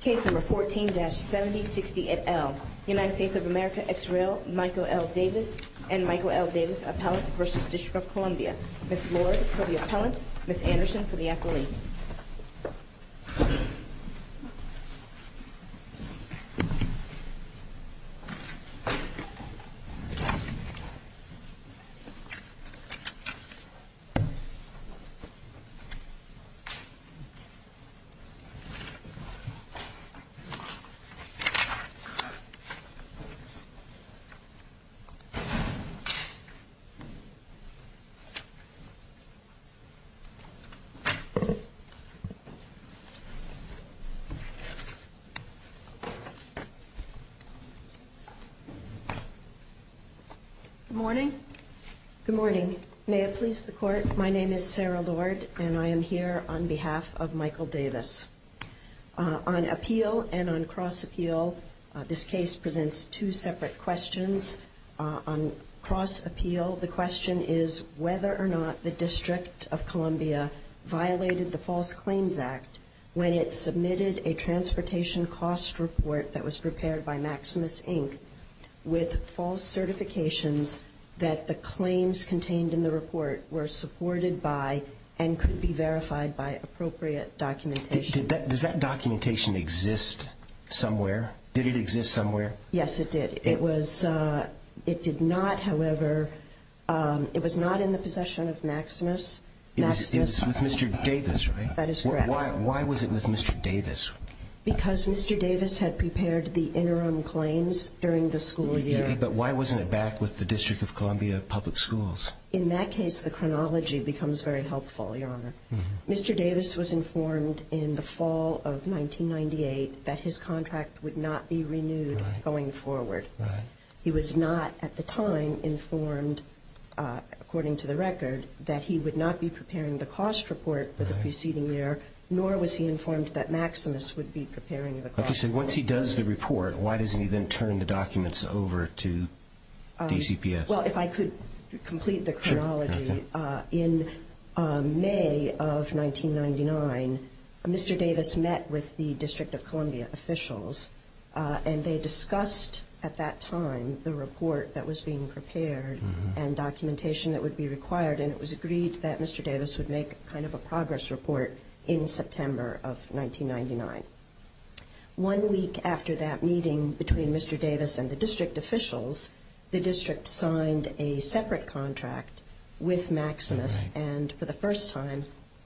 Case No. 14-7060 et al. United States of America, Israel, Michael L. Davis and Michael L. Davis, Appellant v. District of Columbia. Ms. Lord for the Appellant, Ms. Anderson for the Acquaintance. Good morning. Good morning. May it please the Court, my name is Sarah Lord and I am here on behalf of Michael Davis. On appeal and on cross-appeal, this case presents two separate questions. On cross-appeal, the question is whether or not the District of Columbia violated the False Claims Act when it submitted a transportation cost report that was prepared by Maximus Inc. with false certifications that the claims contained in the report were supported by and could be verified by appropriate documentation. Does that documentation exist somewhere? Did it exist somewhere? Yes, it did. It did not, however, it was not in the possession of Maximus. It was with Mr. Davis, right? That is correct. Why was it with Mr. Davis? Because Mr. Davis had prepared the interim claims during the school year. But why wasn't it back with the District of Columbia Public Schools? In that case, the chronology becomes very helpful, Your Honor. Mr. Davis was informed in the fall of 1998 that his contract would not be renewed going forward. He was not at the time informed, according to the record, that he would not be preparing the cost report for the preceding year, nor was he informed that Maximus would be preparing the cost report. Okay, so once he does the report, why doesn't he then turn the documents over to DCPS? Well, if I could complete the chronology. Sure. In May of 1999, Mr. Davis met with the District of Columbia officials, and they discussed at that time the report that was being prepared and documentation that would be required, and it was agreed that Mr. Davis would make kind of a progress report in September of 1999. One week after that meeting between Mr. Davis and the district officials, the district signed a separate contract with Maximus and for the first time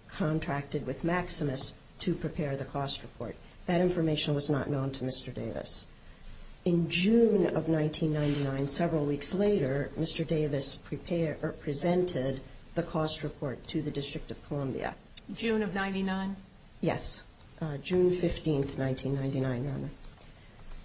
contracted with Maximus to prepare the cost report. That information was not known to Mr. Davis. In June of 1999, several weeks later, Mr. Davis presented the cost report to the District of Columbia. June of 99? Yes, June 15, 1999, Your Honor.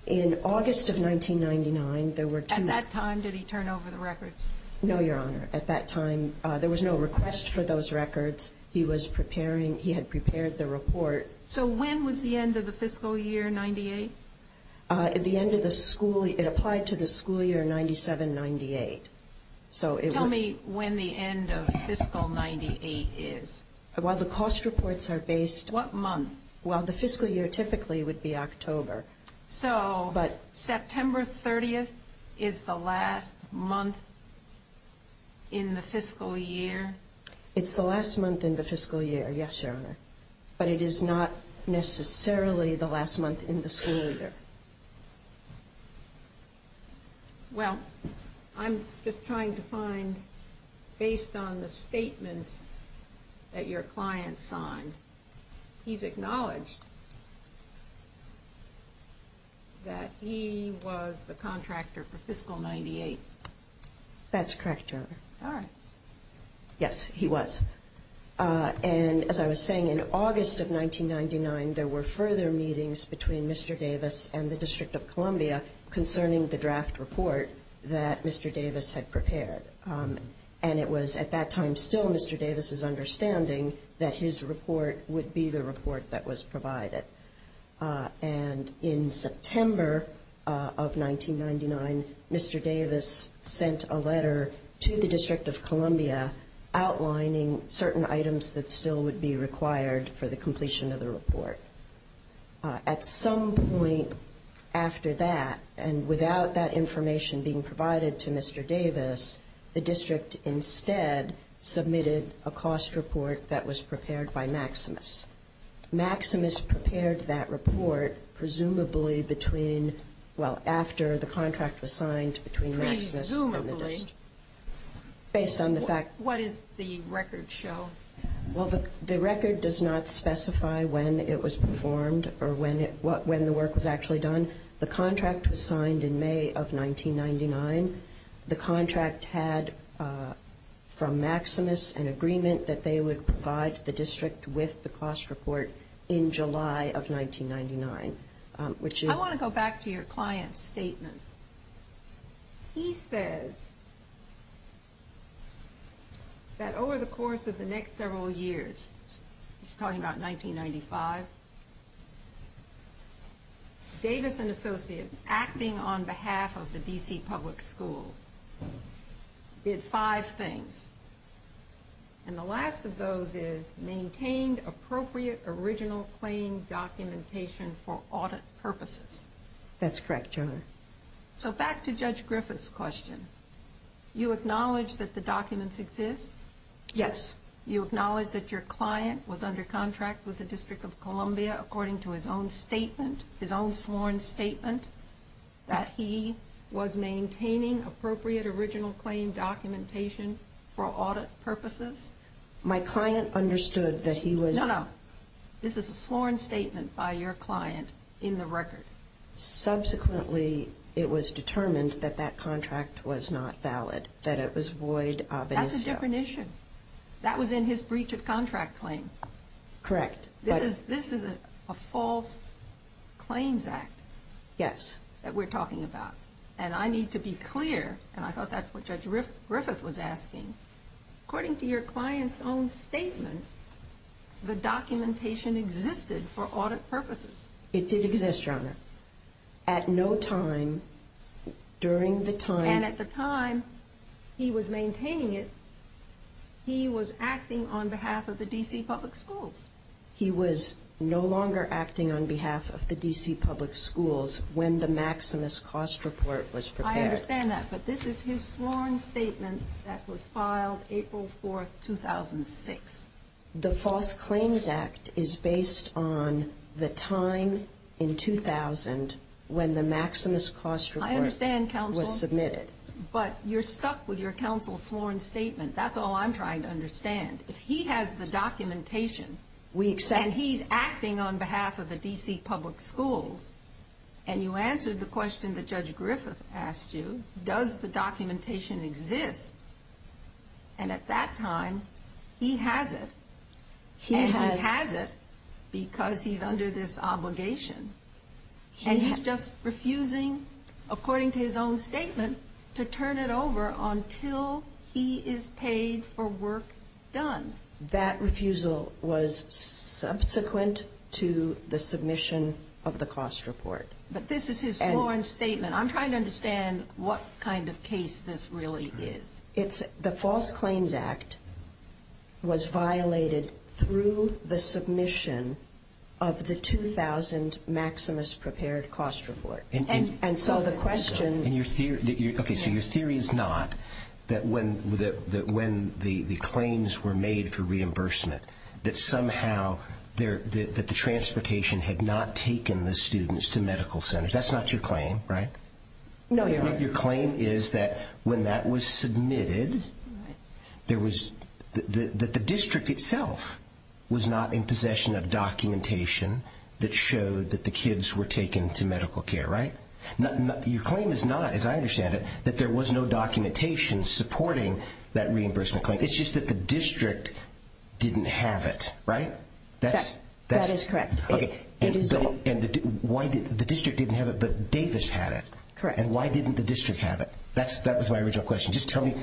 In August of 1999, there were two men. At that time, did he turn over the records? No, Your Honor. At that time, there was no request for those records. He was preparing. He had prepared the report. So when was the end of the fiscal year 98? At the end of the school year. It applied to the school year 97-98. Tell me when the end of fiscal 98 is. Well, the cost reports are based. What month? Well, the fiscal year typically would be October. So September 30th is the last month in the fiscal year? It's the last month in the fiscal year, yes, Your Honor. But it is not necessarily the last month in the school year. Well, I'm just trying to find, based on the statement that your client signed, he's acknowledged that he was the contractor for fiscal 98. That's correct, Your Honor. All right. Yes, he was. And as I was saying, in August of 1999, there were further meetings between Mr. Davis and the District of Columbia concerning the draft report that Mr. Davis had prepared. And it was at that time still Mr. Davis's understanding that his report would be the report that was provided. And in September of 1999, Mr. Davis sent a letter to the District of Columbia outlining certain items that still would be required for the completion of the report. At some point after that, and without that information being provided to Mr. Davis, the district instead submitted a cost report that was prepared by Maximus. Maximus prepared that report presumably between, well, after the contract was signed between Maximus and the district. Based on the fact. What does the record show? Well, the record does not specify when it was performed or when the work was actually done. The contract was signed in May of 1999. The contract had from Maximus an agreement that they would provide the district with the cost report in July of 1999, which is. I want to go back to your client's statement. He says that over the course of the next several years, he's talking about 1995, Davis and Associates, acting on behalf of the D.C. public schools, did five things. And the last of those is maintained appropriate original claim documentation for audit purposes. That's correct, Your Honor. So back to Judge Griffith's question. You acknowledge that the documents exist? Yes. You acknowledge that your client was under contract with the District of Columbia according to his own statement, his own sworn statement, that he was maintaining appropriate original claim documentation for audit purposes? My client understood that he was. No, no. This is a sworn statement by your client in the record. Subsequently, it was determined that that contract was not valid, that it was void of an issue. That's a different issue. That was in his breach of contract claim. Correct. This is a false claims act. Yes. That we're talking about. And I need to be clear, and I thought that's what Judge Griffith was asking. According to your client's own statement, the documentation existed for audit purposes. It did exist, Your Honor. At no time during the time. And at the time he was maintaining it, he was acting on behalf of the D.C. public schools. He was no longer acting on behalf of the D.C. public schools when the Maximus Cost Report was prepared. I understand that, but this is his sworn statement that was filed April 4, 2006. The false claims act is based on the time in 2000 when the Maximus Cost Report was submitted. I understand, counsel. But you're stuck with your counsel's sworn statement. That's all I'm trying to understand. If he has the documentation and he's acting on behalf of the D.C. public schools, and you answered the question that Judge Griffith asked you, does the documentation exist? And at that time, he has it. And he has it because he's under this obligation. And he's just refusing, according to his own statement, to turn it over until he is paid for work done. That refusal was subsequent to the submission of the cost report. But this is his sworn statement. I'm trying to understand what kind of case this really is. The false claims act was violated through the submission of the 2000 Maximus Prepared Cost Report. Okay, so your theory is not that when the claims were made for reimbursement, that somehow the transportation had not taken the students to medical centers. That's not your claim, right? No, Your Honor. Your claim is that when that was submitted, that the district itself was not in possession of documentation that showed that the kids were taken to medical care, right? Your claim is not, as I understand it, that there was no documentation supporting that reimbursement claim. It's just that the district didn't have it, right? That is correct. The district didn't have it, but Davis had it. And why didn't the district have it? That was my original question. Just tell me.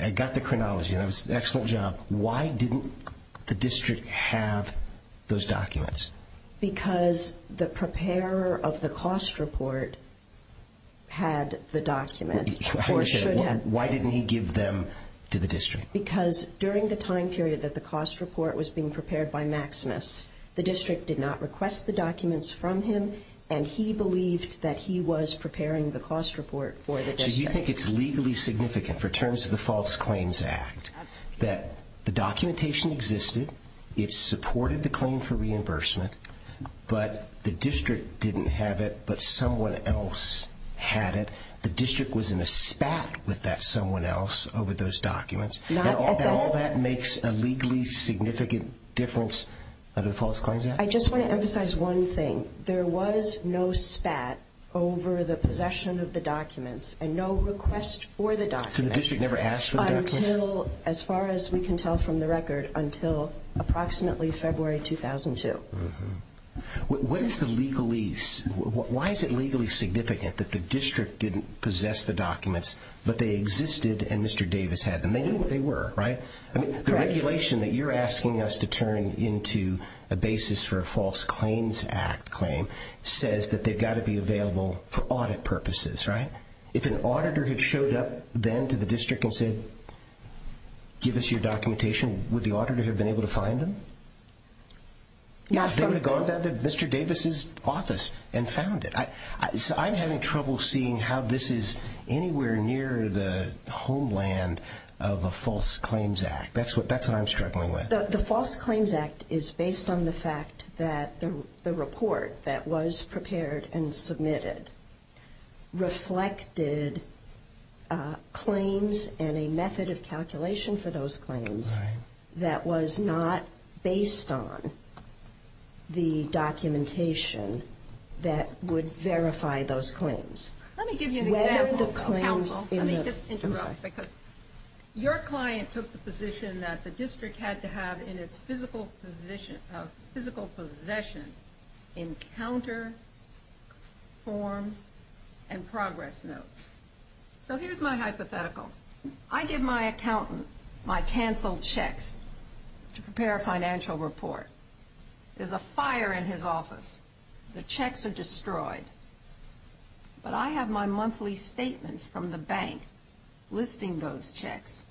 I got the chronology, and that was an excellent job. Why didn't the district have those documents? Because the preparer of the cost report had the documents, or should have. Why didn't he give them to the district? Because during the time period that the cost report was being prepared by Maximus, the district did not request the documents from him, and he believed that he was preparing the cost report for the district. So you think it's legally significant, for terms of the False Claims Act, that the documentation existed, it supported the claim for reimbursement, but the district didn't have it, but someone else had it, the district was in a spat with that someone else over those documents, and all that makes a legally significant difference under the False Claims Act? I just want to emphasize one thing. There was no spat over the possession of the documents, and no request for the documents. So the district never asked for the documents? Until, as far as we can tell from the record, until approximately February 2002. What is the legalese? Why is it legally significant that the district didn't possess the documents, but they existed, and Mr. Davis had them? They knew what they were, right? The regulation that you're asking us to turn into a basis for a False Claims Act claim says that they've got to be available for audit purposes, right? If an auditor had showed up then to the district and said, give us your documentation, would the auditor have been able to find them? They would have gone down to Mr. Davis' office and found it. I'm having trouble seeing how this is anywhere near the homeland of a False Claims Act. That's what I'm struggling with. The False Claims Act is based on the fact that the report that was prepared and submitted reflected claims and a method of calculation for those claims that was not based on the documentation that would verify those claims. Let me give you an example, counsel. Let me just interrupt, because your client took the position that the district had to have in its physical possession encounter forms and progress notes. So here's my hypothetical. I give my accountant my canceled checks to prepare a financial report. There's a fire in his office. The checks are destroyed. But I have my monthly statements from the bank listing those checks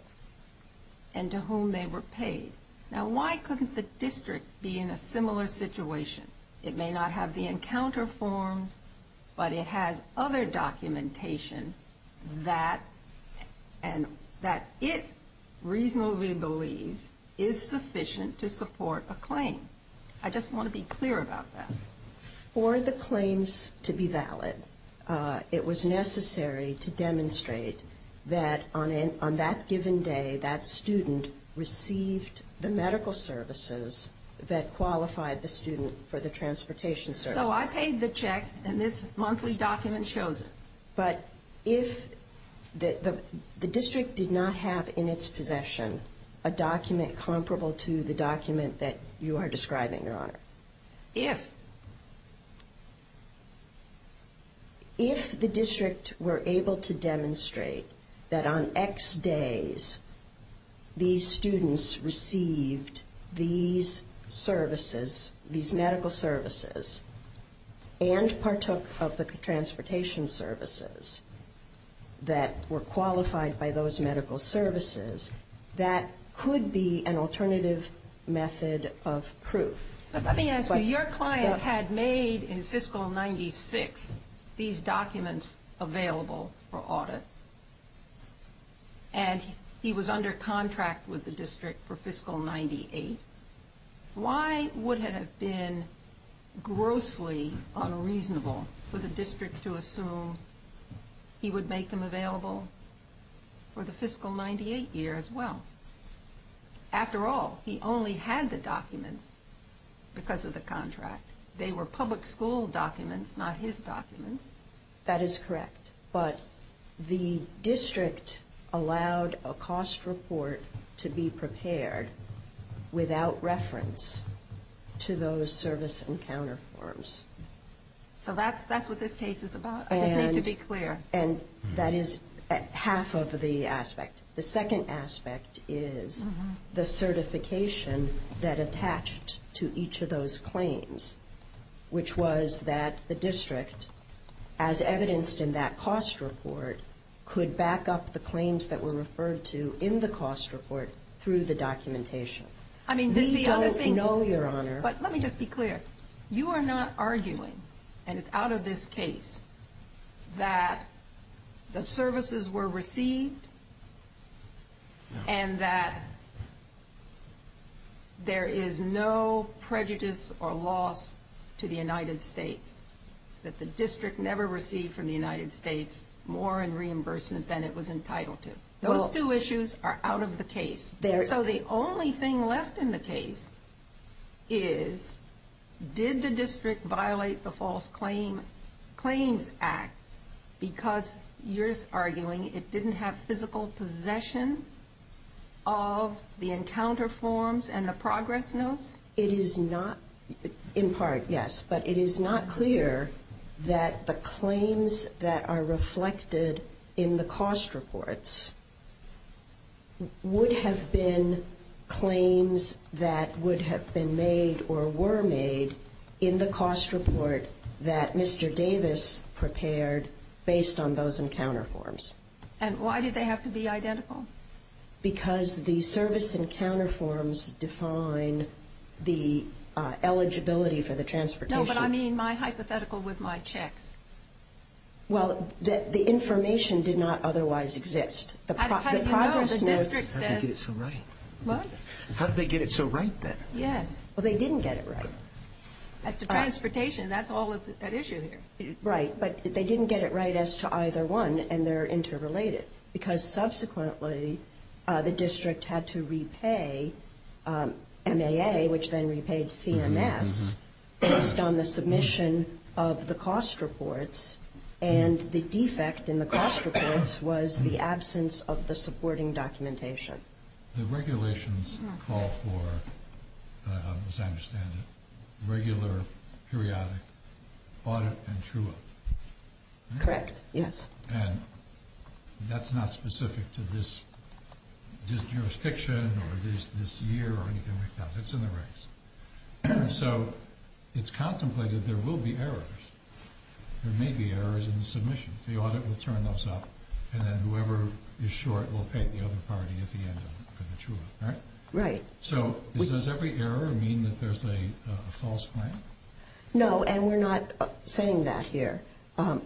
and to whom they were paid. Now, why couldn't the district be in a similar situation? It may not have the encounter forms, but it has other documentation that it reasonably believes is sufficient to support a claim. I just want to be clear about that. For the claims to be valid, it was necessary to demonstrate that on that given day, that student received the medical services that qualified the student for the transportation services. So I paid the check, and this monthly document shows it. But if the district did not have in its possession a document comparable to the document that you are describing, Your Honor. If. If the district were able to demonstrate that on X days these students received these services, these medical services, and partook of the transportation services that were qualified by those medical services, that could be an alternative method of proof. But let me ask you, your client had made in fiscal 96 these documents available for audit, and he was under contract with the district for fiscal 98. Why would it have been grossly unreasonable for the district to assume he would make them available for the fiscal 98 year as well? After all, he only had the documents because of the contract. They were public school documents, not his documents. That is correct. But the district allowed a cost report to be prepared without reference to those service encounter forms. So that's what this case is about. I just need to be clear. And that is half of the aspect. The second aspect is the certification that attached to each of those claims, which was that the district, as evidenced in that cost report, could back up the claims that were referred to in the cost report through the documentation. I mean, this is the other thing. We don't know, Your Honor. But let me just be clear. You are not arguing, and it's out of this case, that the services were received and that there is no prejudice or loss to the United States, that the district never received from the United States more in reimbursement than it was entitled to. Those two issues are out of the case. So the only thing left in the case is, did the district violate the False Claims Act because you're arguing it didn't have physical possession of the encounter forms and the progress notes? It is not, in part, yes. But it is not clear that the claims that are reflected in the cost reports would have been claims that would have been made or were made in the cost report that Mr. Davis prepared based on those encounter forms. And why did they have to be identical? Because the service encounter forms define the eligibility for the transportation. No, but I mean my hypothetical with my checks. Well, the information did not otherwise exist. How do you know? The district says. The progress notes. How did they get it so right? What? How did they get it so right, then? Yes. Well, they didn't get it right. As to transportation, that's all that's at issue here. Right. But they didn't get it right as to either one, and they're interrelated. Because subsequently, the district had to repay MAA, which then repaid CMS, based on the submission of the cost reports. And the defect in the cost reports was the absence of the supporting documentation. The regulations call for, as I understand it, regular periodic audit and true audit. Correct, yes. And that's not specific to this jurisdiction or this year or anything like that. It's in the regs. So it's contemplated there will be errors. There may be errors in the submissions. The audit will turn those up, and then whoever is short will pay the other party at the end of it for the true audit. Right? Right. So does every error mean that there's a false claim? No, and we're not saying that here.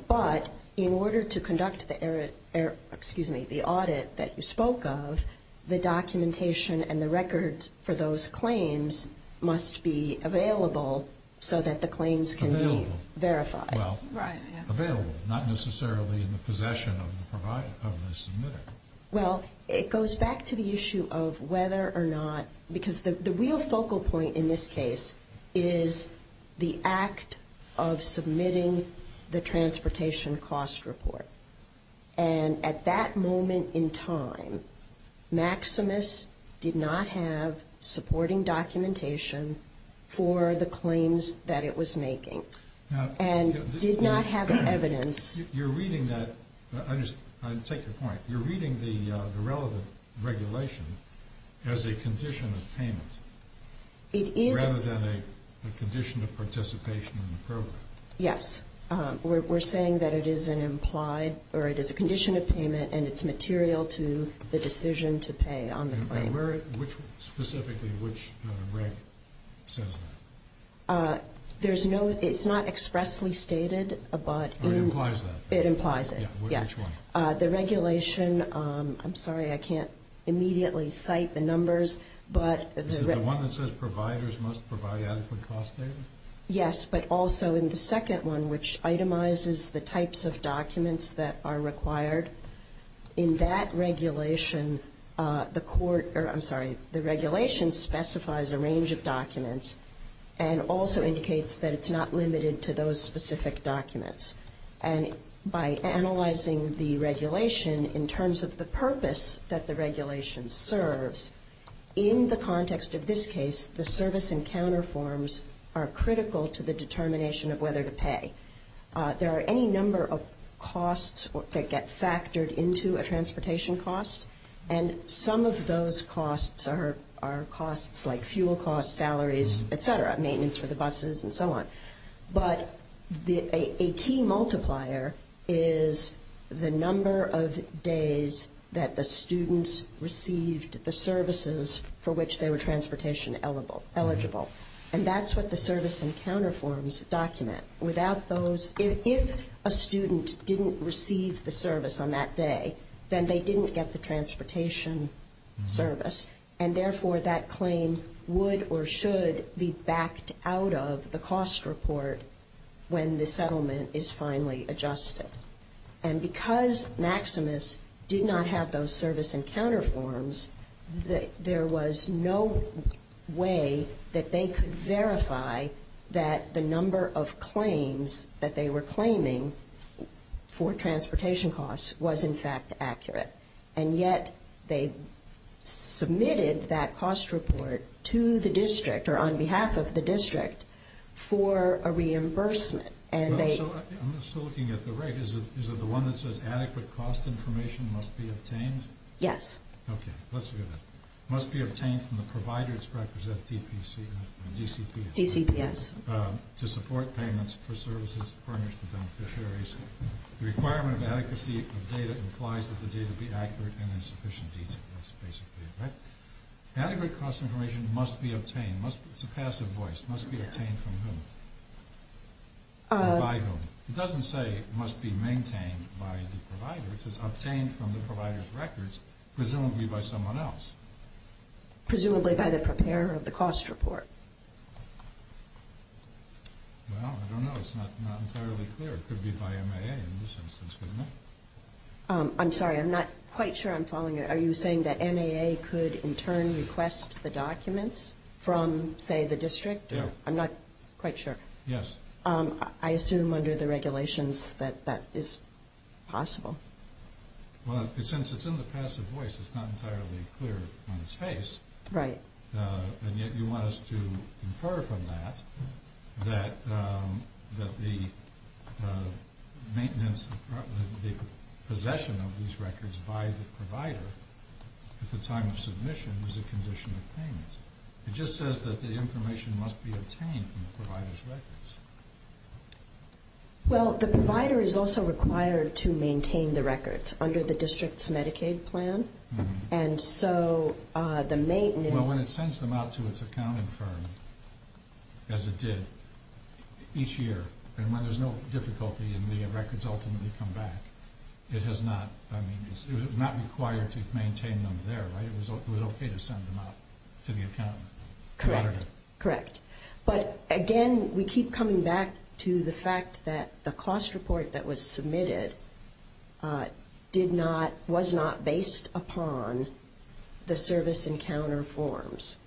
But in order to conduct the audit that you spoke of, the documentation and the record for those claims must be available so that the claims can be verified. Well, available, not necessarily in the possession of the submitter. Well, it goes back to the issue of whether or not, because the real focal point in this case is the act of submitting the transportation cost report. And at that moment in time, Maximus did not have supporting documentation for the claims that it was making. And did not have evidence. I take your point. You're reading the relevant regulation as a condition of payment rather than a condition of participation in the program. Yes. We're saying that it is an implied or it is a condition of payment, and it's material to the decision to pay on the claim. And specifically which reg says that? There's no ‑‑ it's not expressly stated. It implies that. It implies it, yes. Which one? The regulation, I'm sorry, I can't immediately cite the numbers. Is it the one that says providers must provide adequate cost data? Yes, but also in the second one, which itemizes the types of documents that are required. In that regulation, the court, I'm sorry, the regulation specifies a range of documents and also indicates that it's not limited to those specific documents. And by analyzing the regulation in terms of the purpose that the regulation serves, in the context of this case, the service and counter forms are critical to the determination of whether to pay. There are any number of costs that get factored into a transportation cost. And some of those costs are costs like fuel costs, salaries, et cetera, maintenance for the buses and so on. But a key multiplier is the number of days that the students received the services for which they were transportation eligible. And that's what the service and counter forms document. If a student didn't receive the service on that day, then they didn't get the transportation service. And therefore, that claim would or should be backed out of the cost report when the settlement is finally adjusted. And because Maximus did not have those service and counter forms, there was no way that they could verify that the number of claims that they were claiming for transportation costs was in fact accurate. And yet, they submitted that cost report to the district or on behalf of the district for a reimbursement. I'm just looking at the reg. Is it the one that says adequate cost information must be obtained? Yes. Okay, let's look at it. It must be obtained from the providers represented by DCPS to support payments for services furnished to beneficiaries. The requirement of adequacy of data implies that the data be accurate and in sufficient detail. That's basically it, right? Adequate cost information must be obtained. It's a passive voice. It must be obtained from whom? By whom? It doesn't say it must be maintained by the provider. It says obtained from the provider's records, presumably by someone else. Presumably by the preparer of the cost report. Well, I don't know. It's not entirely clear. It could be by MAA in this instance, couldn't it? I'm sorry. I'm not quite sure I'm following you. Are you saying that MAA could in turn request the documents from, say, the district? Yeah. I'm not quite sure. Yes. I assume under the regulations that that is possible. Well, since it's in the passive voice, it's not entirely clear on its face. Right. And yet you want us to infer from that that the maintenance, the possession of these records by the provider at the time of submission is a condition of payment. It just says that the information must be obtained from the provider's records. Well, the provider is also required to maintain the records under the district's Medicaid plan, and so the maintenance... Well, when it sends them out to its accounting firm, as it did each year, and when there's no difficulty and the records ultimately come back, it has not, I mean, it's not required to maintain them there, right? It was okay to send them out to the accountant. Correct. But again, we keep coming back to the fact that the cost report that was submitted was not based upon the service encounter forms,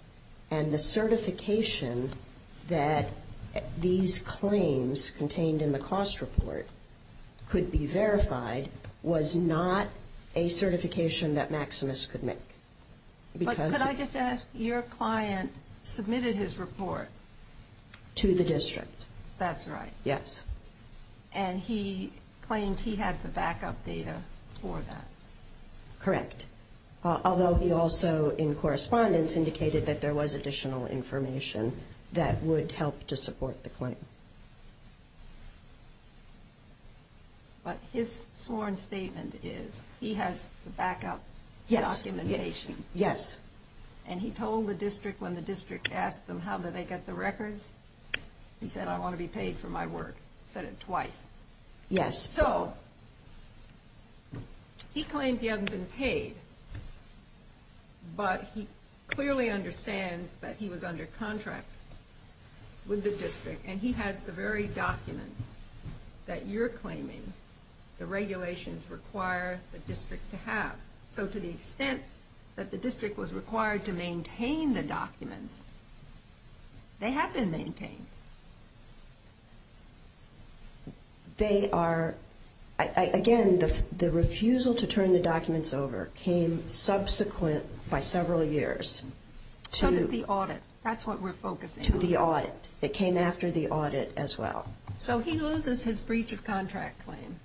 and the certification that these claims contained in the cost report could be verified was not a certification that Maximus could make. But could I just ask, your client submitted his report... To the district. That's right. Yes. And he claimed he had the backup data for that. Correct. Although he also, in correspondence, indicated that there was additional information that would help to support the claim. But his sworn statement is he has the backup documentation. Yes. And he told the district, when the district asked them how did they get the records, he said, I want to be paid for my work. He said it twice. Yes. So he claims he hasn't been paid, but he clearly understands that he was under contract with the district, and he has the very documents that you're claiming the regulations require the district to have. So to the extent that the district was required to maintain the documents, they have been maintained. They are, again, the refusal to turn the documents over came subsequent by several years. So did the audit. To the audit. It came after the audit as well. So he loses his breach of contract claim,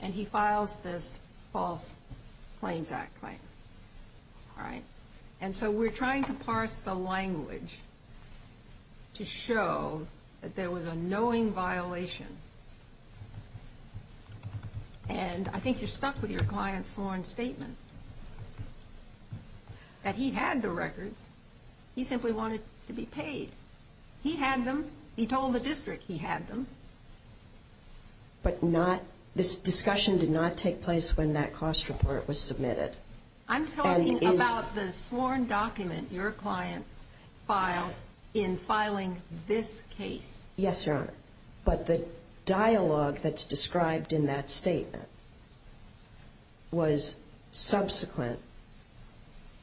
and he files this false claims act claim. All right. And so we're trying to parse the language to show that there was a knowing violation. And I think you're stuck with your client's sworn statement, that he had the records. He simply wanted to be paid. He had them. He told the district he had them. But this discussion did not take place when that cost report was submitted. I'm talking about the sworn document your client filed in filing this case. Yes, Your Honor. But the dialogue that's described in that statement was subsequent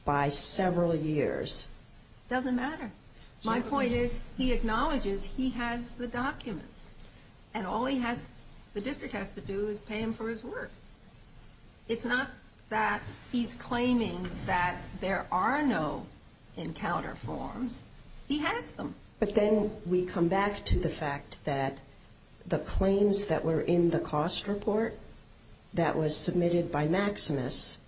by several years. It doesn't matter. My point is he acknowledges he has the documents, and all he has, the district has to do is pay him for his work. It's not that he's claiming that there are no encounter forms. He has them. But then we come back to the fact that the claims that were in the cost report that was submitted by Maximus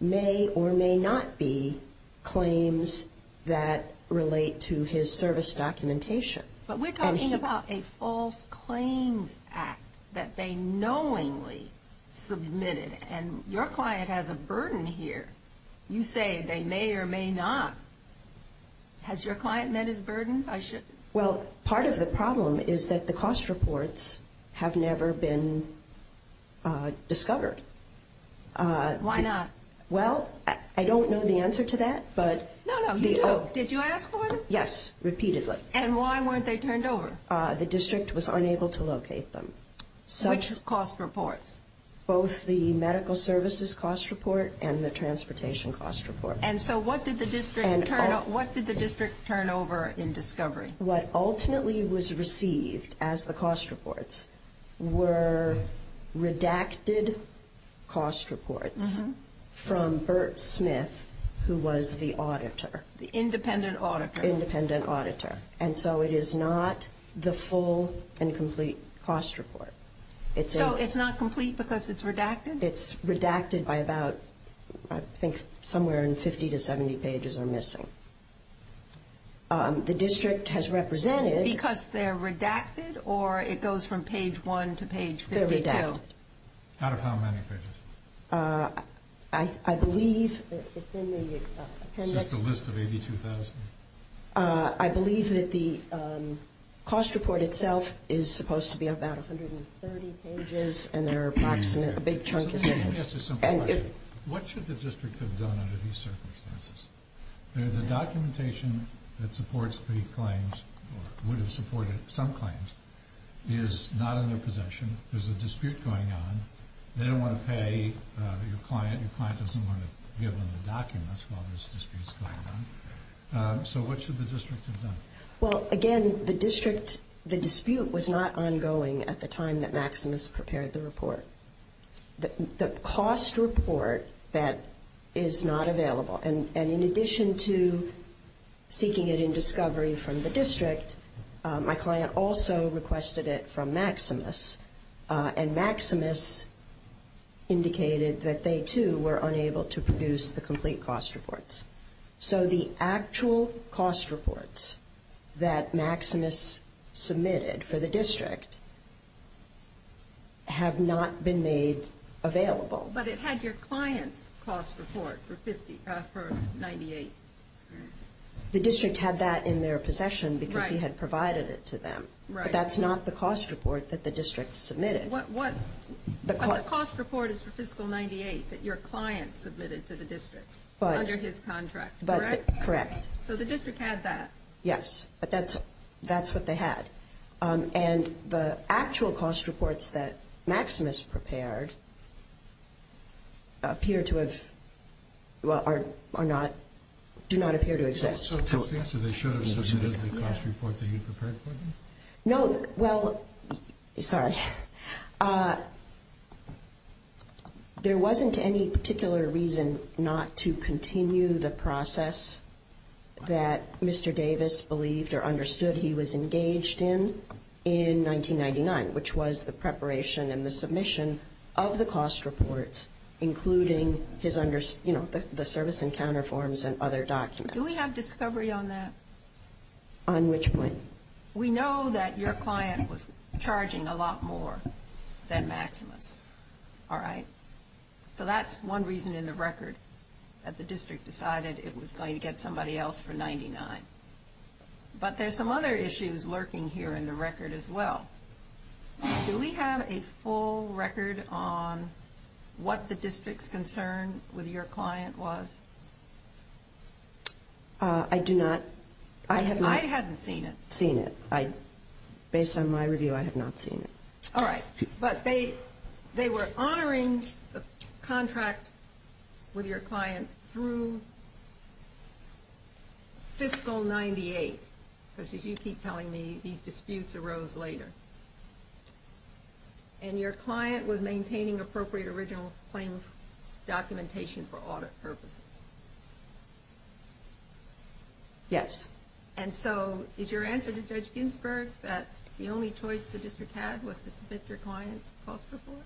may or may not be claims that relate to his service documentation. But we're talking about a false claims act that they knowingly submitted. And your client has a burden here. You say they may or may not. Has your client met his burden? Well, part of the problem is that the cost reports have never been discovered. Why not? Well, I don't know the answer to that. No, no, you do. Did you ask for them? Yes, repeatedly. And why weren't they turned over? The district was unable to locate them. Which cost reports? Both the medical services cost report and the transportation cost report. And so what did the district turn over in discovery? What ultimately was received as the cost reports were redacted cost reports from Burt Smith, who was the auditor. The independent auditor. Independent auditor. And so it is not the full and complete cost report. So it's not complete because it's redacted? It's redacted by about I think somewhere in 50 to 70 pages are missing. The district has represented. Because they're redacted or it goes from page 1 to page 52? They're redacted. Out of how many pages? I believe it's in the appendix. Is this the list of 82,000? I believe that the cost report itself is supposed to be about 130 pages and they're approximate. A big chunk is missing. So let me ask you a simple question. What should the district have done under these circumstances? The documentation that supports the claims or would have supported some claims is not in their possession. There's a dispute going on. They don't want to pay your client. Your client doesn't want to give them the documents while there's disputes going on. So what should the district have done? Well, again, the dispute was not ongoing at the time that Maximus prepared the report. The cost report, that is not available. And in addition to seeking it in discovery from the district, my client also requested it from Maximus. And Maximus indicated that they, too, were unable to produce the complete cost reports. So the actual cost reports that Maximus submitted for the district have not been made available. But it had your client's cost report for 98. The district had that in their possession because he had provided it to them. But that's not the cost report that the district submitted. But the cost report is for fiscal 98 that your client submitted to the district under his contract, correct? Correct. So the district had that. Yes, but that's what they had. And the actual cost reports that Maximus prepared appear to have or do not appear to exist. So that's the answer. They should have submitted the cost report that you prepared for them? No. Well, sorry. There wasn't any particular reason not to continue the process that Mr. Davis believed or understood he was engaged in in 1999, which was the preparation and the submission of the cost reports, including, you know, the service encounter forms and other documents. Do we have discovery on that? On which point? We know that your client was charging a lot more than Maximus, all right? So that's one reason in the record that the district decided it was going to get somebody else for 99. But there's some other issues lurking here in the record as well. Do we have a full record on what the district's concern with your client was? I do not. I haven't seen it. Seen it. Based on my review, I have not seen it. All right. But they were honoring the contract with your client through fiscal 98, because as you keep telling me, these disputes arose later. And your client was maintaining appropriate original claim documentation for audit purposes? Yes. And so is your answer to Judge Ginsburg that the only choice the district had was to submit your client's cost report?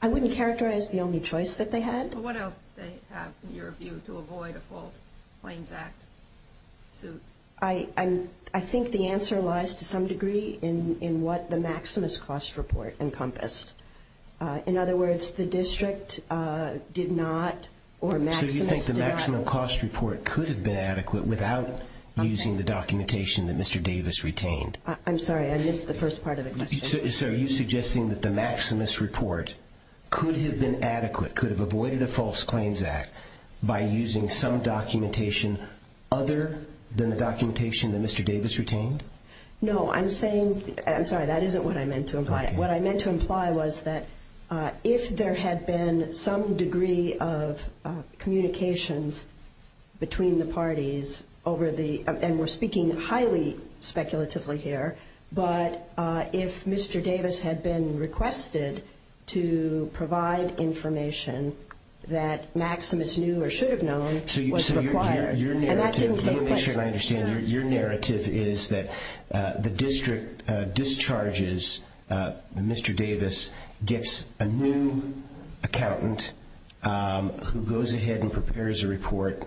I wouldn't characterize the only choice that they had. Well, what else did they have, in your view, to avoid a false claims act suit? I think the answer lies to some degree in what the Maximus cost report encompassed. In other words, the district did not or Maximus did not. The Maximus report could have been adequate without using the documentation that Mr. Davis retained. I'm sorry. I missed the first part of the question. So are you suggesting that the Maximus report could have been adequate, could have avoided a false claims act, by using some documentation other than the documentation that Mr. Davis retained? No. I'm sorry. That isn't what I meant to imply. What I implied was that if there had been some degree of communications between the parties over the ‑‑ and we're speaking highly speculatively here, but if Mr. Davis had been requested to provide information that Maximus knew or should have known was required. And that didn't take place. Your narrative is that the district discharges Mr. Davis, gets a new accountant who goes ahead and prepares a report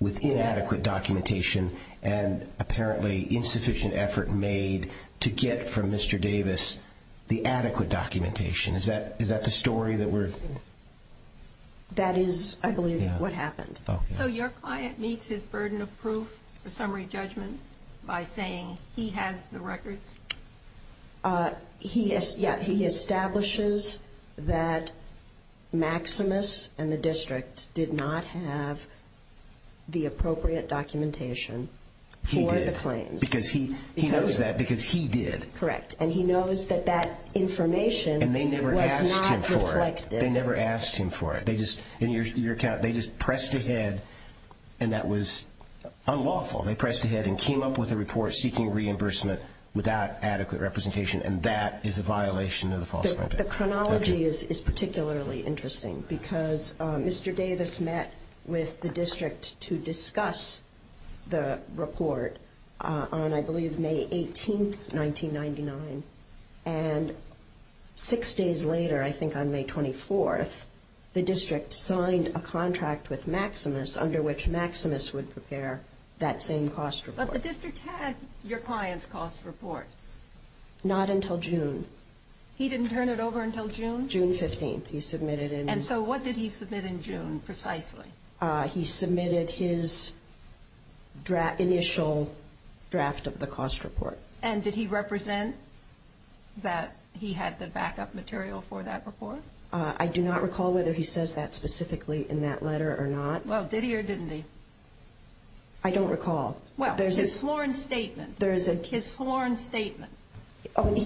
with inadequate documentation and apparently insufficient effort made to get from Mr. Davis the adequate documentation. Is that the story that we're ‑‑ That is, I believe, what happened. So your client meets his burden of proof, the summary judgment, by saying he has the records? He establishes that Maximus and the district did not have the appropriate documentation for the claims. He did. Because he knows that, because he did. Correct. And he knows that that information was not reflected. And they never asked him for it. They never asked him for it. They just, in your account, they just pressed ahead, and that was unlawful. They pressed ahead and came up with a report seeking reimbursement without adequate representation, and that is a violation of the false complaint. The chronology is particularly interesting, because Mr. Davis met with the district to discuss the report on, I believe, May 18th, 1999. And six days later, I think on May 24th, the district signed a contract with Maximus under which Maximus would prepare that same cost report. But the district had your client's cost report. Not until June. He didn't turn it over until June? June 15th, he submitted it. And so what did he submit in June, precisely? He submitted his initial draft of the cost report. And did he represent that he had the backup material for that report? I do not recall whether he says that specifically in that letter or not. Well, did he or didn't he? I don't recall. Well, his sworn statement. His sworn statement.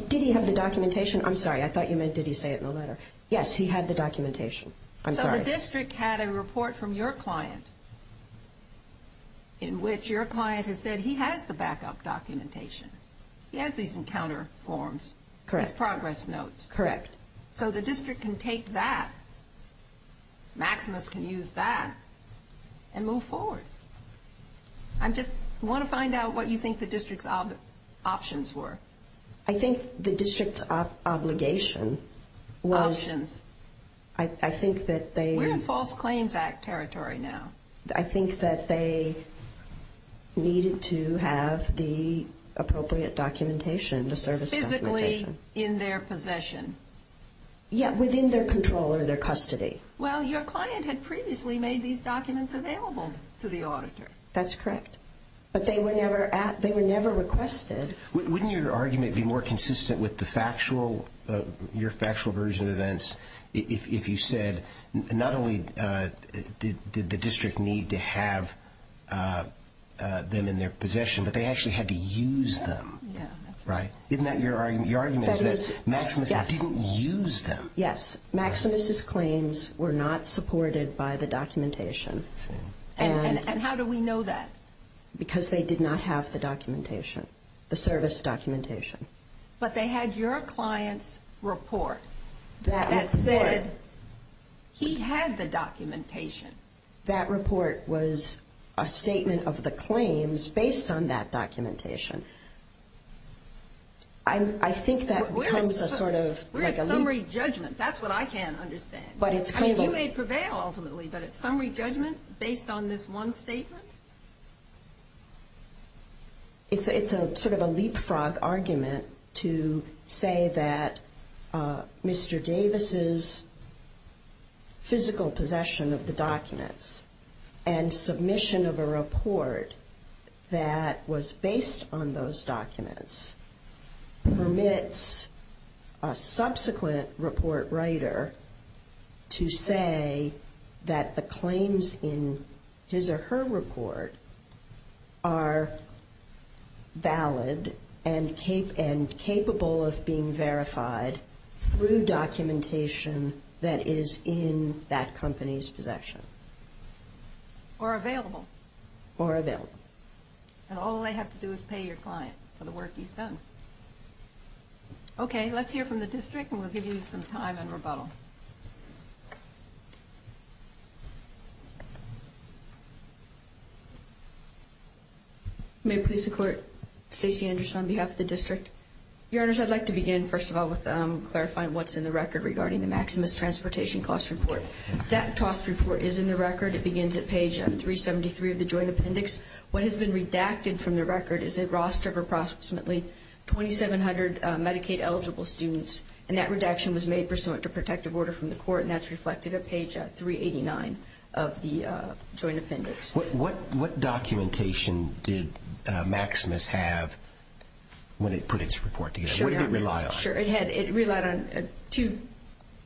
Did he have the documentation? I'm sorry, I thought you meant did he say it in the letter. Yes, he had the documentation. I'm sorry. The district had a report from your client in which your client has said he has the backup documentation. He has these encounter forms. Correct. His progress notes. Correct. So the district can take that, Maximus can use that, and move forward. I just want to find out what you think the district's options were. I think the district's obligation was. Options. I think that they. We're in False Claims Act territory now. I think that they needed to have the appropriate documentation, the service documentation. Physically in their possession. Yeah, within their control or their custody. Well, your client had previously made these documents available to the auditor. That's correct. But they were never requested. Wouldn't your argument be more consistent with the factual, your factual version of events, if you said not only did the district need to have them in their possession, but they actually had to use them. Yeah. Right? Isn't that your argument? Your argument is that Maximus didn't use them. Yes. Maximus's claims were not supported by the documentation. And how do we know that? Because they did not have the documentation, the service documentation. But they had your client's report that said he had the documentation. That report was a statement of the claims based on that documentation. I think that becomes a sort of legal. We're at summary judgment. That's what I can't understand. But it's claimable. You may prevail, ultimately, but it's summary judgment based on this one statement? It's sort of a leapfrog argument to say that Mr. Davis's physical possession of the documents and submission of a report that was based on those documents permits a subsequent report writer to say that the claims in his or her report are valid and capable of being verified through documentation that is in that company's possession. Or available. Or available. And all they have to do is pay your client for the work he's done. Okay. Let's hear from the district, and we'll give you some time and rebuttal. May I please support Stacey Anderson on behalf of the district? Your Honors, I'd like to begin, first of all, with clarifying what's in the record regarding the Maximus Transportation Cost Report. That cost report is in the record. It begins at page 373 of the Joint Appendix. What has been redacted from the record is a roster of approximately 2,700 Medicaid-eligible students, and that redaction was made pursuant to protective order from the court, and that's reflected at page 389 of the Joint Appendix. What documentation did Maximus have when it put its report together? What did it rely on? Sure. It relied on two,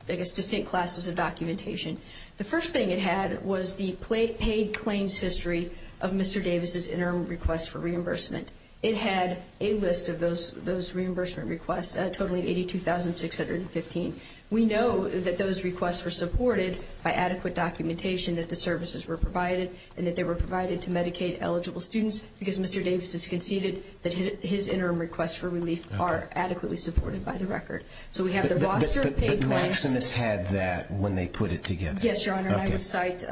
I guess, distinct classes of documentation. The first thing it had was the paid claims history of Mr. Davis's interim request for reimbursement. It had a list of those reimbursement requests, totaling 82,615. We know that those requests were supported by adequate documentation, that the services were provided, and that they were provided to Medicaid-eligible students, because Mr. Davis has conceded that his interim requests for relief are adequately supported by the record. So we have the roster of paid claims. Did Maximus have that when they put it together? Yes, Your Honor. I would cite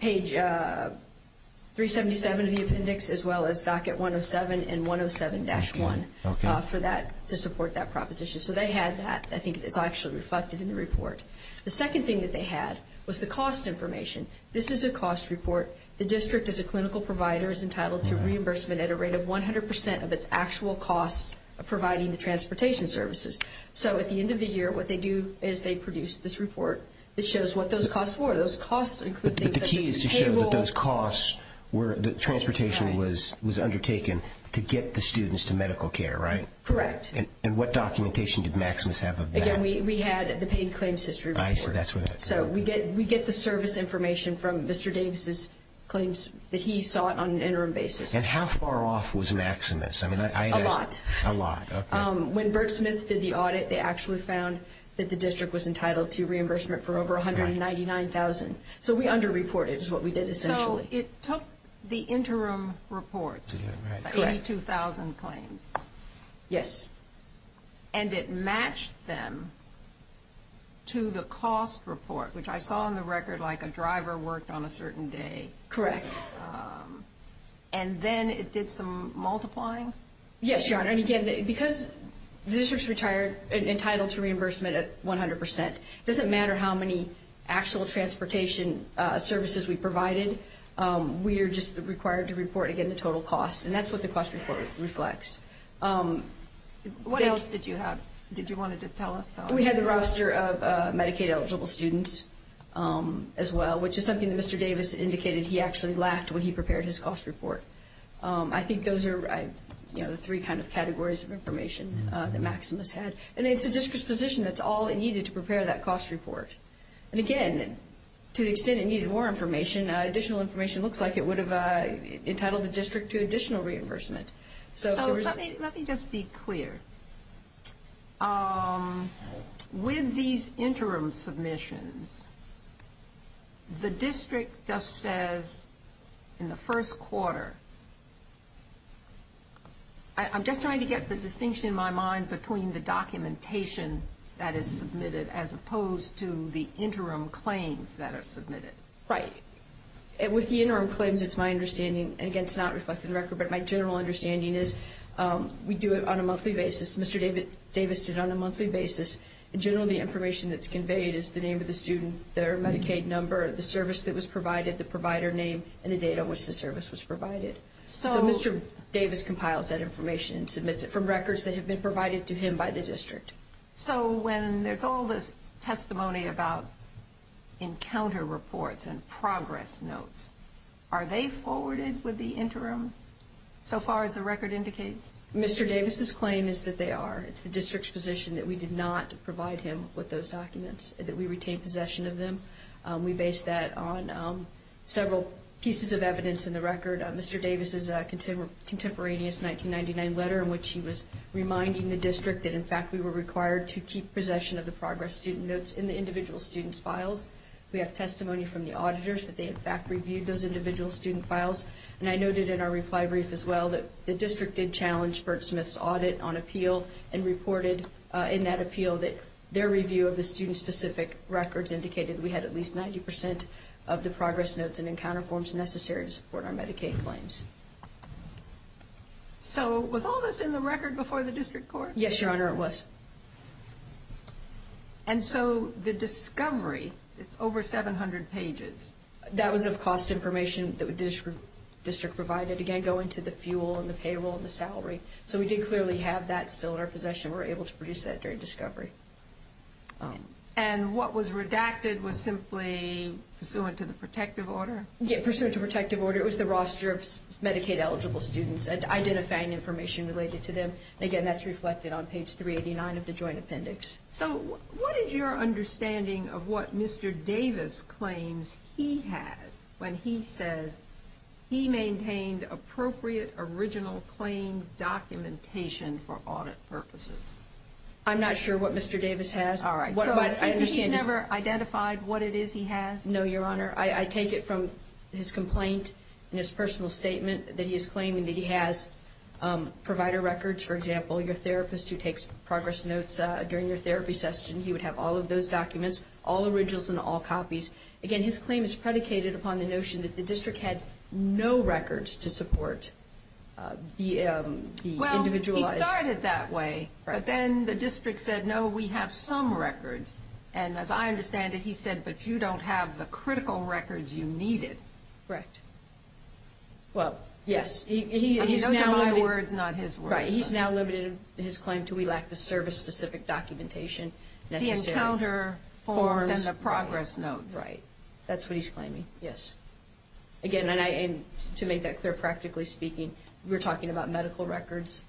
page 377 of the appendix as well as docket 107 and 107-1 for that, to support that proposition. So they had that. I think it's actually reflected in the report. The second thing that they had was the cost information. This is a cost report. The district, as a clinical provider, is entitled to reimbursement at a rate of 100% of its actual costs of providing the transportation services. So at the end of the year, what they do is they produce this report that shows what those costs were. Those costs include things such as a cable. But the key is to show that those costs were transportation was undertaken to get the students to medical care, right? Correct. And what documentation did Maximus have of that? Again, we had the paid claims history report. I see. So we get the service information from Mr. Davis's claims that he sought on an interim basis. And how far off was Maximus? A lot. A lot, okay. When Bert Smith did the audit, they actually found that the district was entitled to reimbursement for over $199,000. So we underreported is what we did essentially. So it took the interim reports, the $82,000 claims. Yes. And it matched them to the cost report, which I saw in the record like a driver worked on a certain day. Correct. And then it did some multiplying? Yes, Your Honor. And, again, because the district's entitled to reimbursement at 100%, it doesn't matter how many actual transportation services we provided. We are just required to report, again, the total cost. And that's what the cost report reflects. What else did you have? Did you want to just tell us? We had the roster of Medicaid-eligible students as well, which is something that Mr. Davis indicated he actually lacked when he prepared his cost report. I think those are the three kind of categories of information that Maximus had. And it's the district's position that's all it needed to prepare that cost report. And, again, to the extent it needed more information, additional information looks like it would have entitled the district to additional reimbursement. So let me just be clear. With these interim submissions, the district just says in the first quarter. I'm just trying to get the distinction in my mind between the documentation that is submitted as opposed to the interim claims that are submitted. Right. With the interim claims, it's my understanding, and, again, it's not reflected in the record, but my general understanding is we do it on a monthly basis. Mr. Davis did it on a monthly basis. In general, the information that's conveyed is the name of the student, their Medicaid number, the service that was provided, the provider name, and the date on which the service was provided. So Mr. Davis compiles that information and submits it from records that have been provided to him by the district. So when there's all this testimony about encounter reports and progress notes, are they forwarded with the interim so far as the record indicates? Mr. Davis' claim is that they are. It's the district's position that we did not provide him with those documents, that we retain possession of them. We base that on several pieces of evidence in the record. Mr. Davis' contemporaneous 1999 letter in which he was reminding the district that, in fact, we were required to keep possession of the progress student notes in the individual student's files. We have testimony from the auditors that they, in fact, reviewed those individual student files, and I noted in our reply brief as well that the district did challenge Burt Smith's audit on appeal and reported in that appeal that their review of the student-specific records indicated we had at least 90 percent of the progress notes and encounter forms necessary to support our Medicaid claims. So was all this in the record before the district court? Yes, Your Honor, it was. And so the discovery, it's over 700 pages. That was of cost information that the district provided, again, going to the fuel and the payroll and the salary. So we did clearly have that still in our possession. We were able to produce that during discovery. And what was redacted was simply pursuant to the protective order? Yeah, pursuant to protective order. It was the roster of Medicaid-eligible students, identifying information related to them. Again, that's reflected on page 389 of the joint appendix. So what is your understanding of what Mr. Davis claims he has when he says he maintained appropriate original claim documentation for audit purposes? I'm not sure what Mr. Davis has. All right. So he's never identified what it is he has? No, Your Honor. I take it from his complaint and his personal statement that he is claiming that he has provider records. For example, your therapist who takes progress notes during your therapy session, he would have all of those documents, all originals and all copies. Again, his claim is predicated upon the notion that the district had no records to support the individualized. Well, he started that way, but then the district said, no, we have some records. And as I understand it, he said, but you don't have the critical records you needed. Correct. Well, yes. Those are my words, not his words. Right. He's now limited his claim to we lack the service-specific documentation necessary. The encounter forms and the progress notes. Right. That's what he's claiming. Yes. Again, and to make that clear, practically speaking, we're talking about medical records.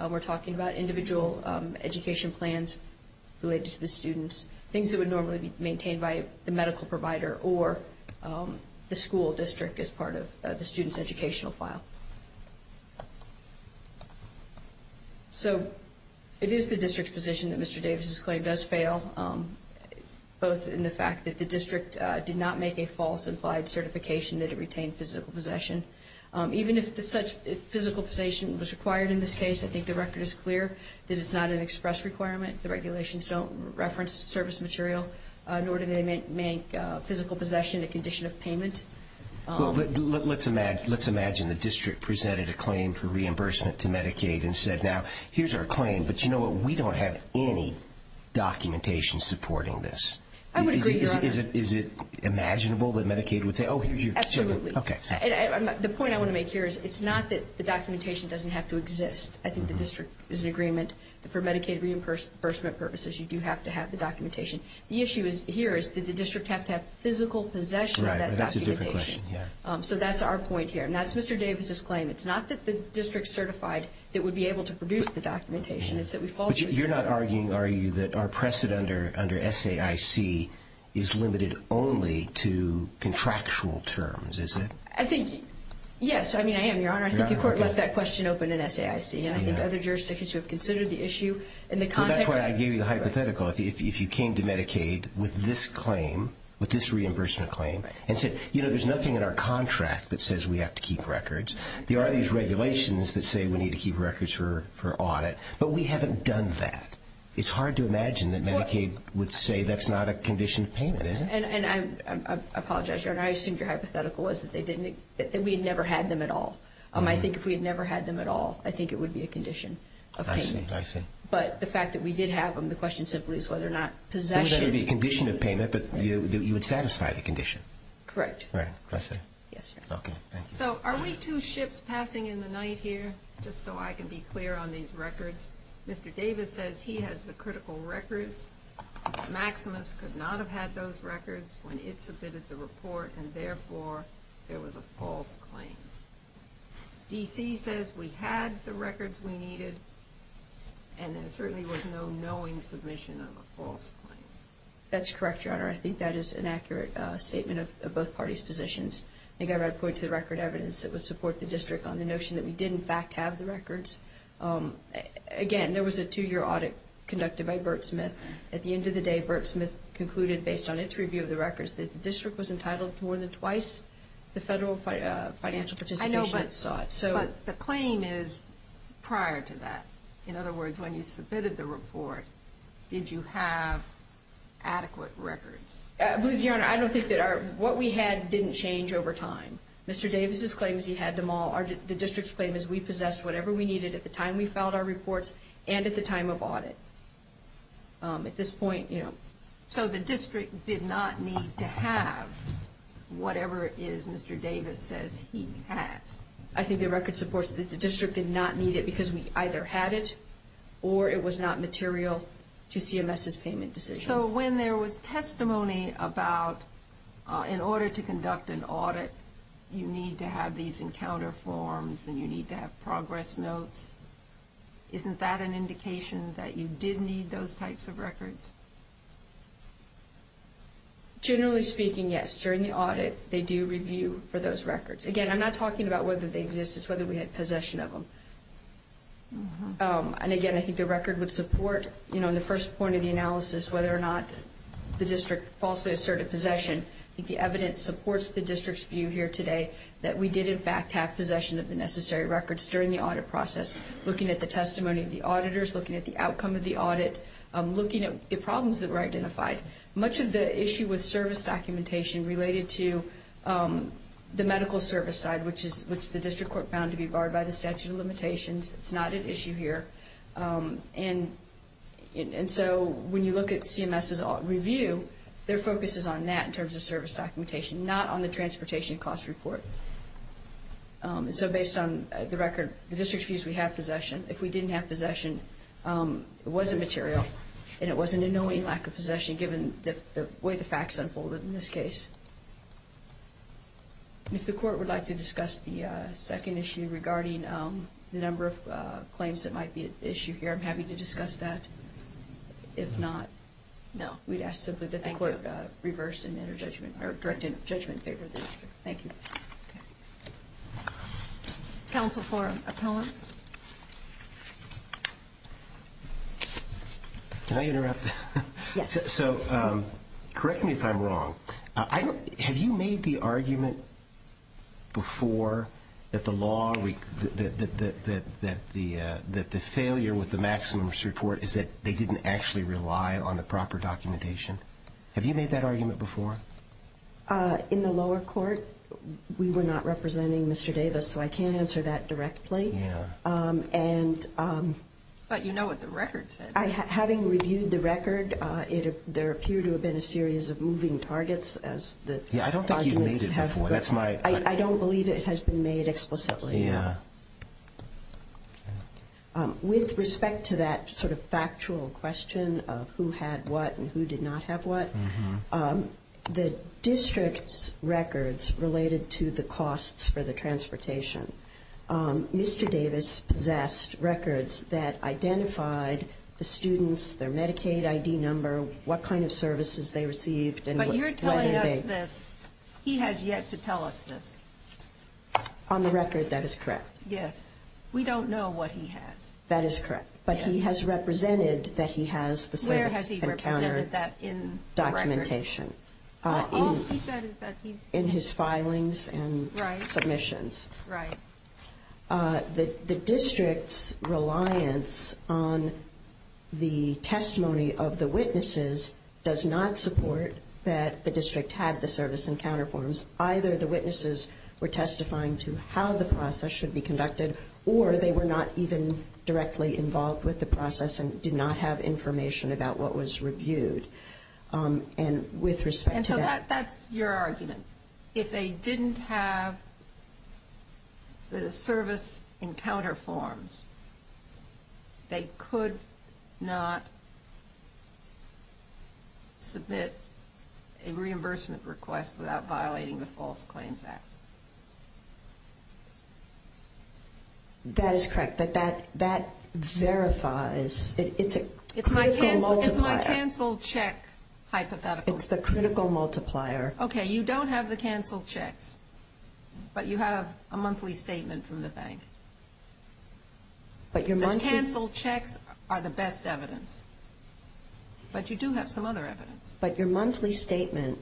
We're talking about individual education plans related to the students, things that would normally be maintained by the medical provider or the school district as part of the student's educational file. So it is the district's position that Mr. Davis's claim does fail, both in the fact that the district did not make a false implied certification that it retained physical possession. Even if such physical possession was required in this case, I think the record is clear that it's not an express requirement. The regulations don't reference service material, nor do they make physical possession a condition of payment. Well, let's imagine the district presented a claim for reimbursement to Medicaid and said, now, here's our claim, but you know what? We don't have any documentation supporting this. I would agree, Your Honor. Is it imaginable that Medicaid would say, oh, here's your certificate? Absolutely. Okay. The point I want to make here is it's not that the documentation doesn't have to exist. I think the district is in agreement that for Medicaid reimbursement purposes, you do have to have the documentation. The issue here is that the district has to have physical possession of that documentation. Right, but that's a different question, yeah. So that's our point here, and that's Mr. Davis's claim. It's not that the district certified that would be able to produce the documentation. It's that we falsely certify. under SAIC is limited only to contractual terms, is it? I think, yes, I mean, I am, Your Honor. I think the court left that question open in SAIC, and I think other jurisdictions who have considered the issue in the context. But that's why I gave you the hypothetical. If you came to Medicaid with this claim, with this reimbursement claim, and said, you know, there's nothing in our contract that says we have to keep records. There are these regulations that say we need to keep records for audit, but we haven't done that. It's hard to imagine that Medicaid would say that's not a condition of payment, is it? And I apologize, Your Honor. I assumed your hypothetical was that we had never had them at all. I think if we had never had them at all, I think it would be a condition of payment. I see. I see. But the fact that we did have them, the question simply is whether or not possession. It would be a condition of payment, but you would satisfy the condition. Correct. Right. Can I say? Yes, Your Honor. Okay. Thank you. So are we two ships passing in the night here, just so I can be clear on these records? Mr. Davis says he has the critical records. Maximus could not have had those records when it submitted the report, and therefore there was a false claim. D.C. says we had the records we needed, and there certainly was no knowing submission of a false claim. That's correct, Your Honor. I think that is an accurate statement of both parties' positions. I think I would point to the record evidence that would support the district on the notion that we did, in fact, have the records. Again, there was a two-year audit conducted by Burtsmith. At the end of the day, Burtsmith concluded, based on its review of the records, that the district was entitled to more than twice the federal financial participation it sought. I know, but the claim is prior to that. In other words, when you submitted the report, did you have adequate records? I believe, Your Honor, I don't think that our – what we had didn't change over time. Mr. Davis's claim is he had them all. The district's claim is we possessed whatever we needed at the time we filed our reports and at the time of audit. At this point, you know. So the district did not need to have whatever it is Mr. Davis says he has. I think the record supports that the district did not need it because we either had it or it was not material to CMS's payment decision. But you need to have these encounter forms and you need to have progress notes. Isn't that an indication that you did need those types of records? Generally speaking, yes. During the audit, they do review for those records. Again, I'm not talking about whether they exist. It's whether we had possession of them. And again, I think the record would support, you know, in the first point of the analysis, whether or not the district falsely asserted possession. I think the evidence supports the district's view here today that we did, in fact, have possession of the necessary records during the audit process, looking at the testimony of the auditors, looking at the outcome of the audit, looking at the problems that were identified. Much of the issue with service documentation related to the medical service side, which the district court found to be barred by the statute of limitations. It's not an issue here. And so when you look at CMS's review, their focus is on that in terms of service documentation, not on the transportation cost report. So based on the record, the district views we have possession. If we didn't have possession, it wasn't material and it wasn't a knowing lack of possession given the way the facts unfolded in this case. If the court would like to discuss the second issue regarding the number of claims that might be at issue here, I'm happy to discuss that. If not, we'd ask simply that the court reverse and enter judgment or direct judgment favor of the district. Thank you. Counsel for Appellant. Can I interrupt? Yes. So correct me if I'm wrong. Have you made the argument before that the failure with the maximum support is that they didn't actually rely on the proper documentation? Have you made that argument before? In the lower court, we were not representing Mr. Davis, so I can't answer that directly. Yeah. But you know what the record said. Having reviewed the record, there appear to have been a series of moving targets. Yeah, I don't think you've made it before. I don't believe it has been made explicitly. Yeah. With respect to that sort of factual question of who had what and who did not have what, the district's records related to the costs for the transportation. Mr. Davis possessed records that identified the students, their Medicaid ID number, what kind of services they received. But you're telling us this. He has yet to tell us this. On the record, that is correct. Yes. We don't know what he has. That is correct. But he has represented that he has the service encounter documentation. Where has he represented that in the record? All he said is that he's... In his filings and submissions. Right. The district's reliance on the testimony of the witnesses does not support that the district had the service encounter forms. Either the witnesses were testifying to how the process should be conducted or they were not even directly involved with the process and did not have information about what was reviewed. And with respect to that... And so that's your argument. If they didn't have the service encounter forms, they could not submit a reimbursement request without violating the False Claims Act. That is correct. But that verifies... It's a critical multiplier. It's my cancel check hypothetical. It's the critical multiplier. Okay. You don't have the cancel checks, but you have a monthly statement from the bank. But your monthly... The cancel checks are the best evidence. But you do have some other evidence. But your monthly statement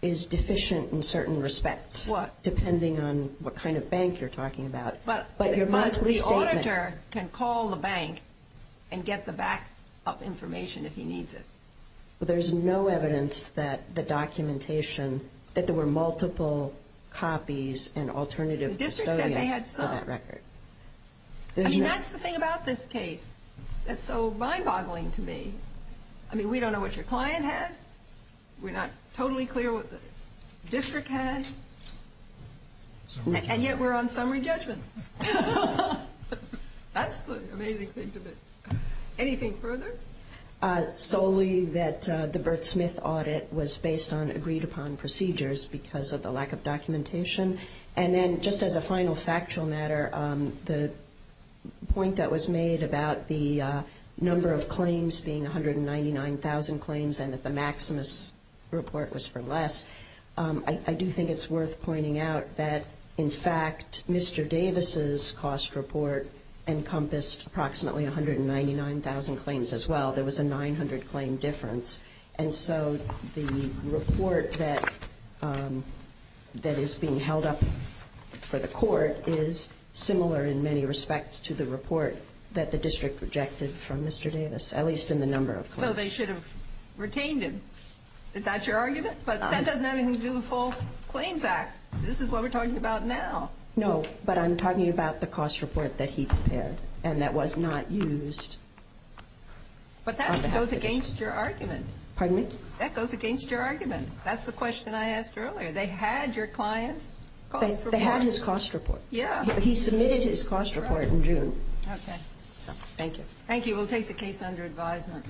is deficient in certain respects. What? Depending on what kind of bank you're talking about. But the auditor can call the bank and get the back-up information if he needs it. But there's no evidence that the documentation... that there were multiple copies and alternative custodians for that record. The district said they had some. I mean, that's the thing about this case. That's so mind-boggling to me. I mean, we don't know what your client has. We're not totally clear what the district had. And yet we're on summary judgment. That's the amazing thing to me. Anything further? Solely that the Bert Smith audit was based on agreed-upon procedures because of the lack of documentation. And then just as a final factual matter, the point that was made about the number of claims being 199,000 claims and that the Maximus report was for less, I do think it's worth pointing out that, in fact, Mr. Davis's cost report encompassed approximately 199,000 claims as well. There was a 900-claim difference. And so the report that is being held up for the court is similar in many respects to the report that the district rejected from Mr. Davis, at least in the number of claims. So they should have retained him. Is that your argument? But that doesn't have anything to do with the False Claims Act. This is what we're talking about now. No, but I'm talking about the cost report that he prepared and that was not used. But that goes against your argument. Pardon me? That goes against your argument. That's the question I asked earlier. They had your client's cost report. They had his cost report. Yeah. He submitted his cost report in June. Okay. Thank you. Thank you. We'll take the case under advisement.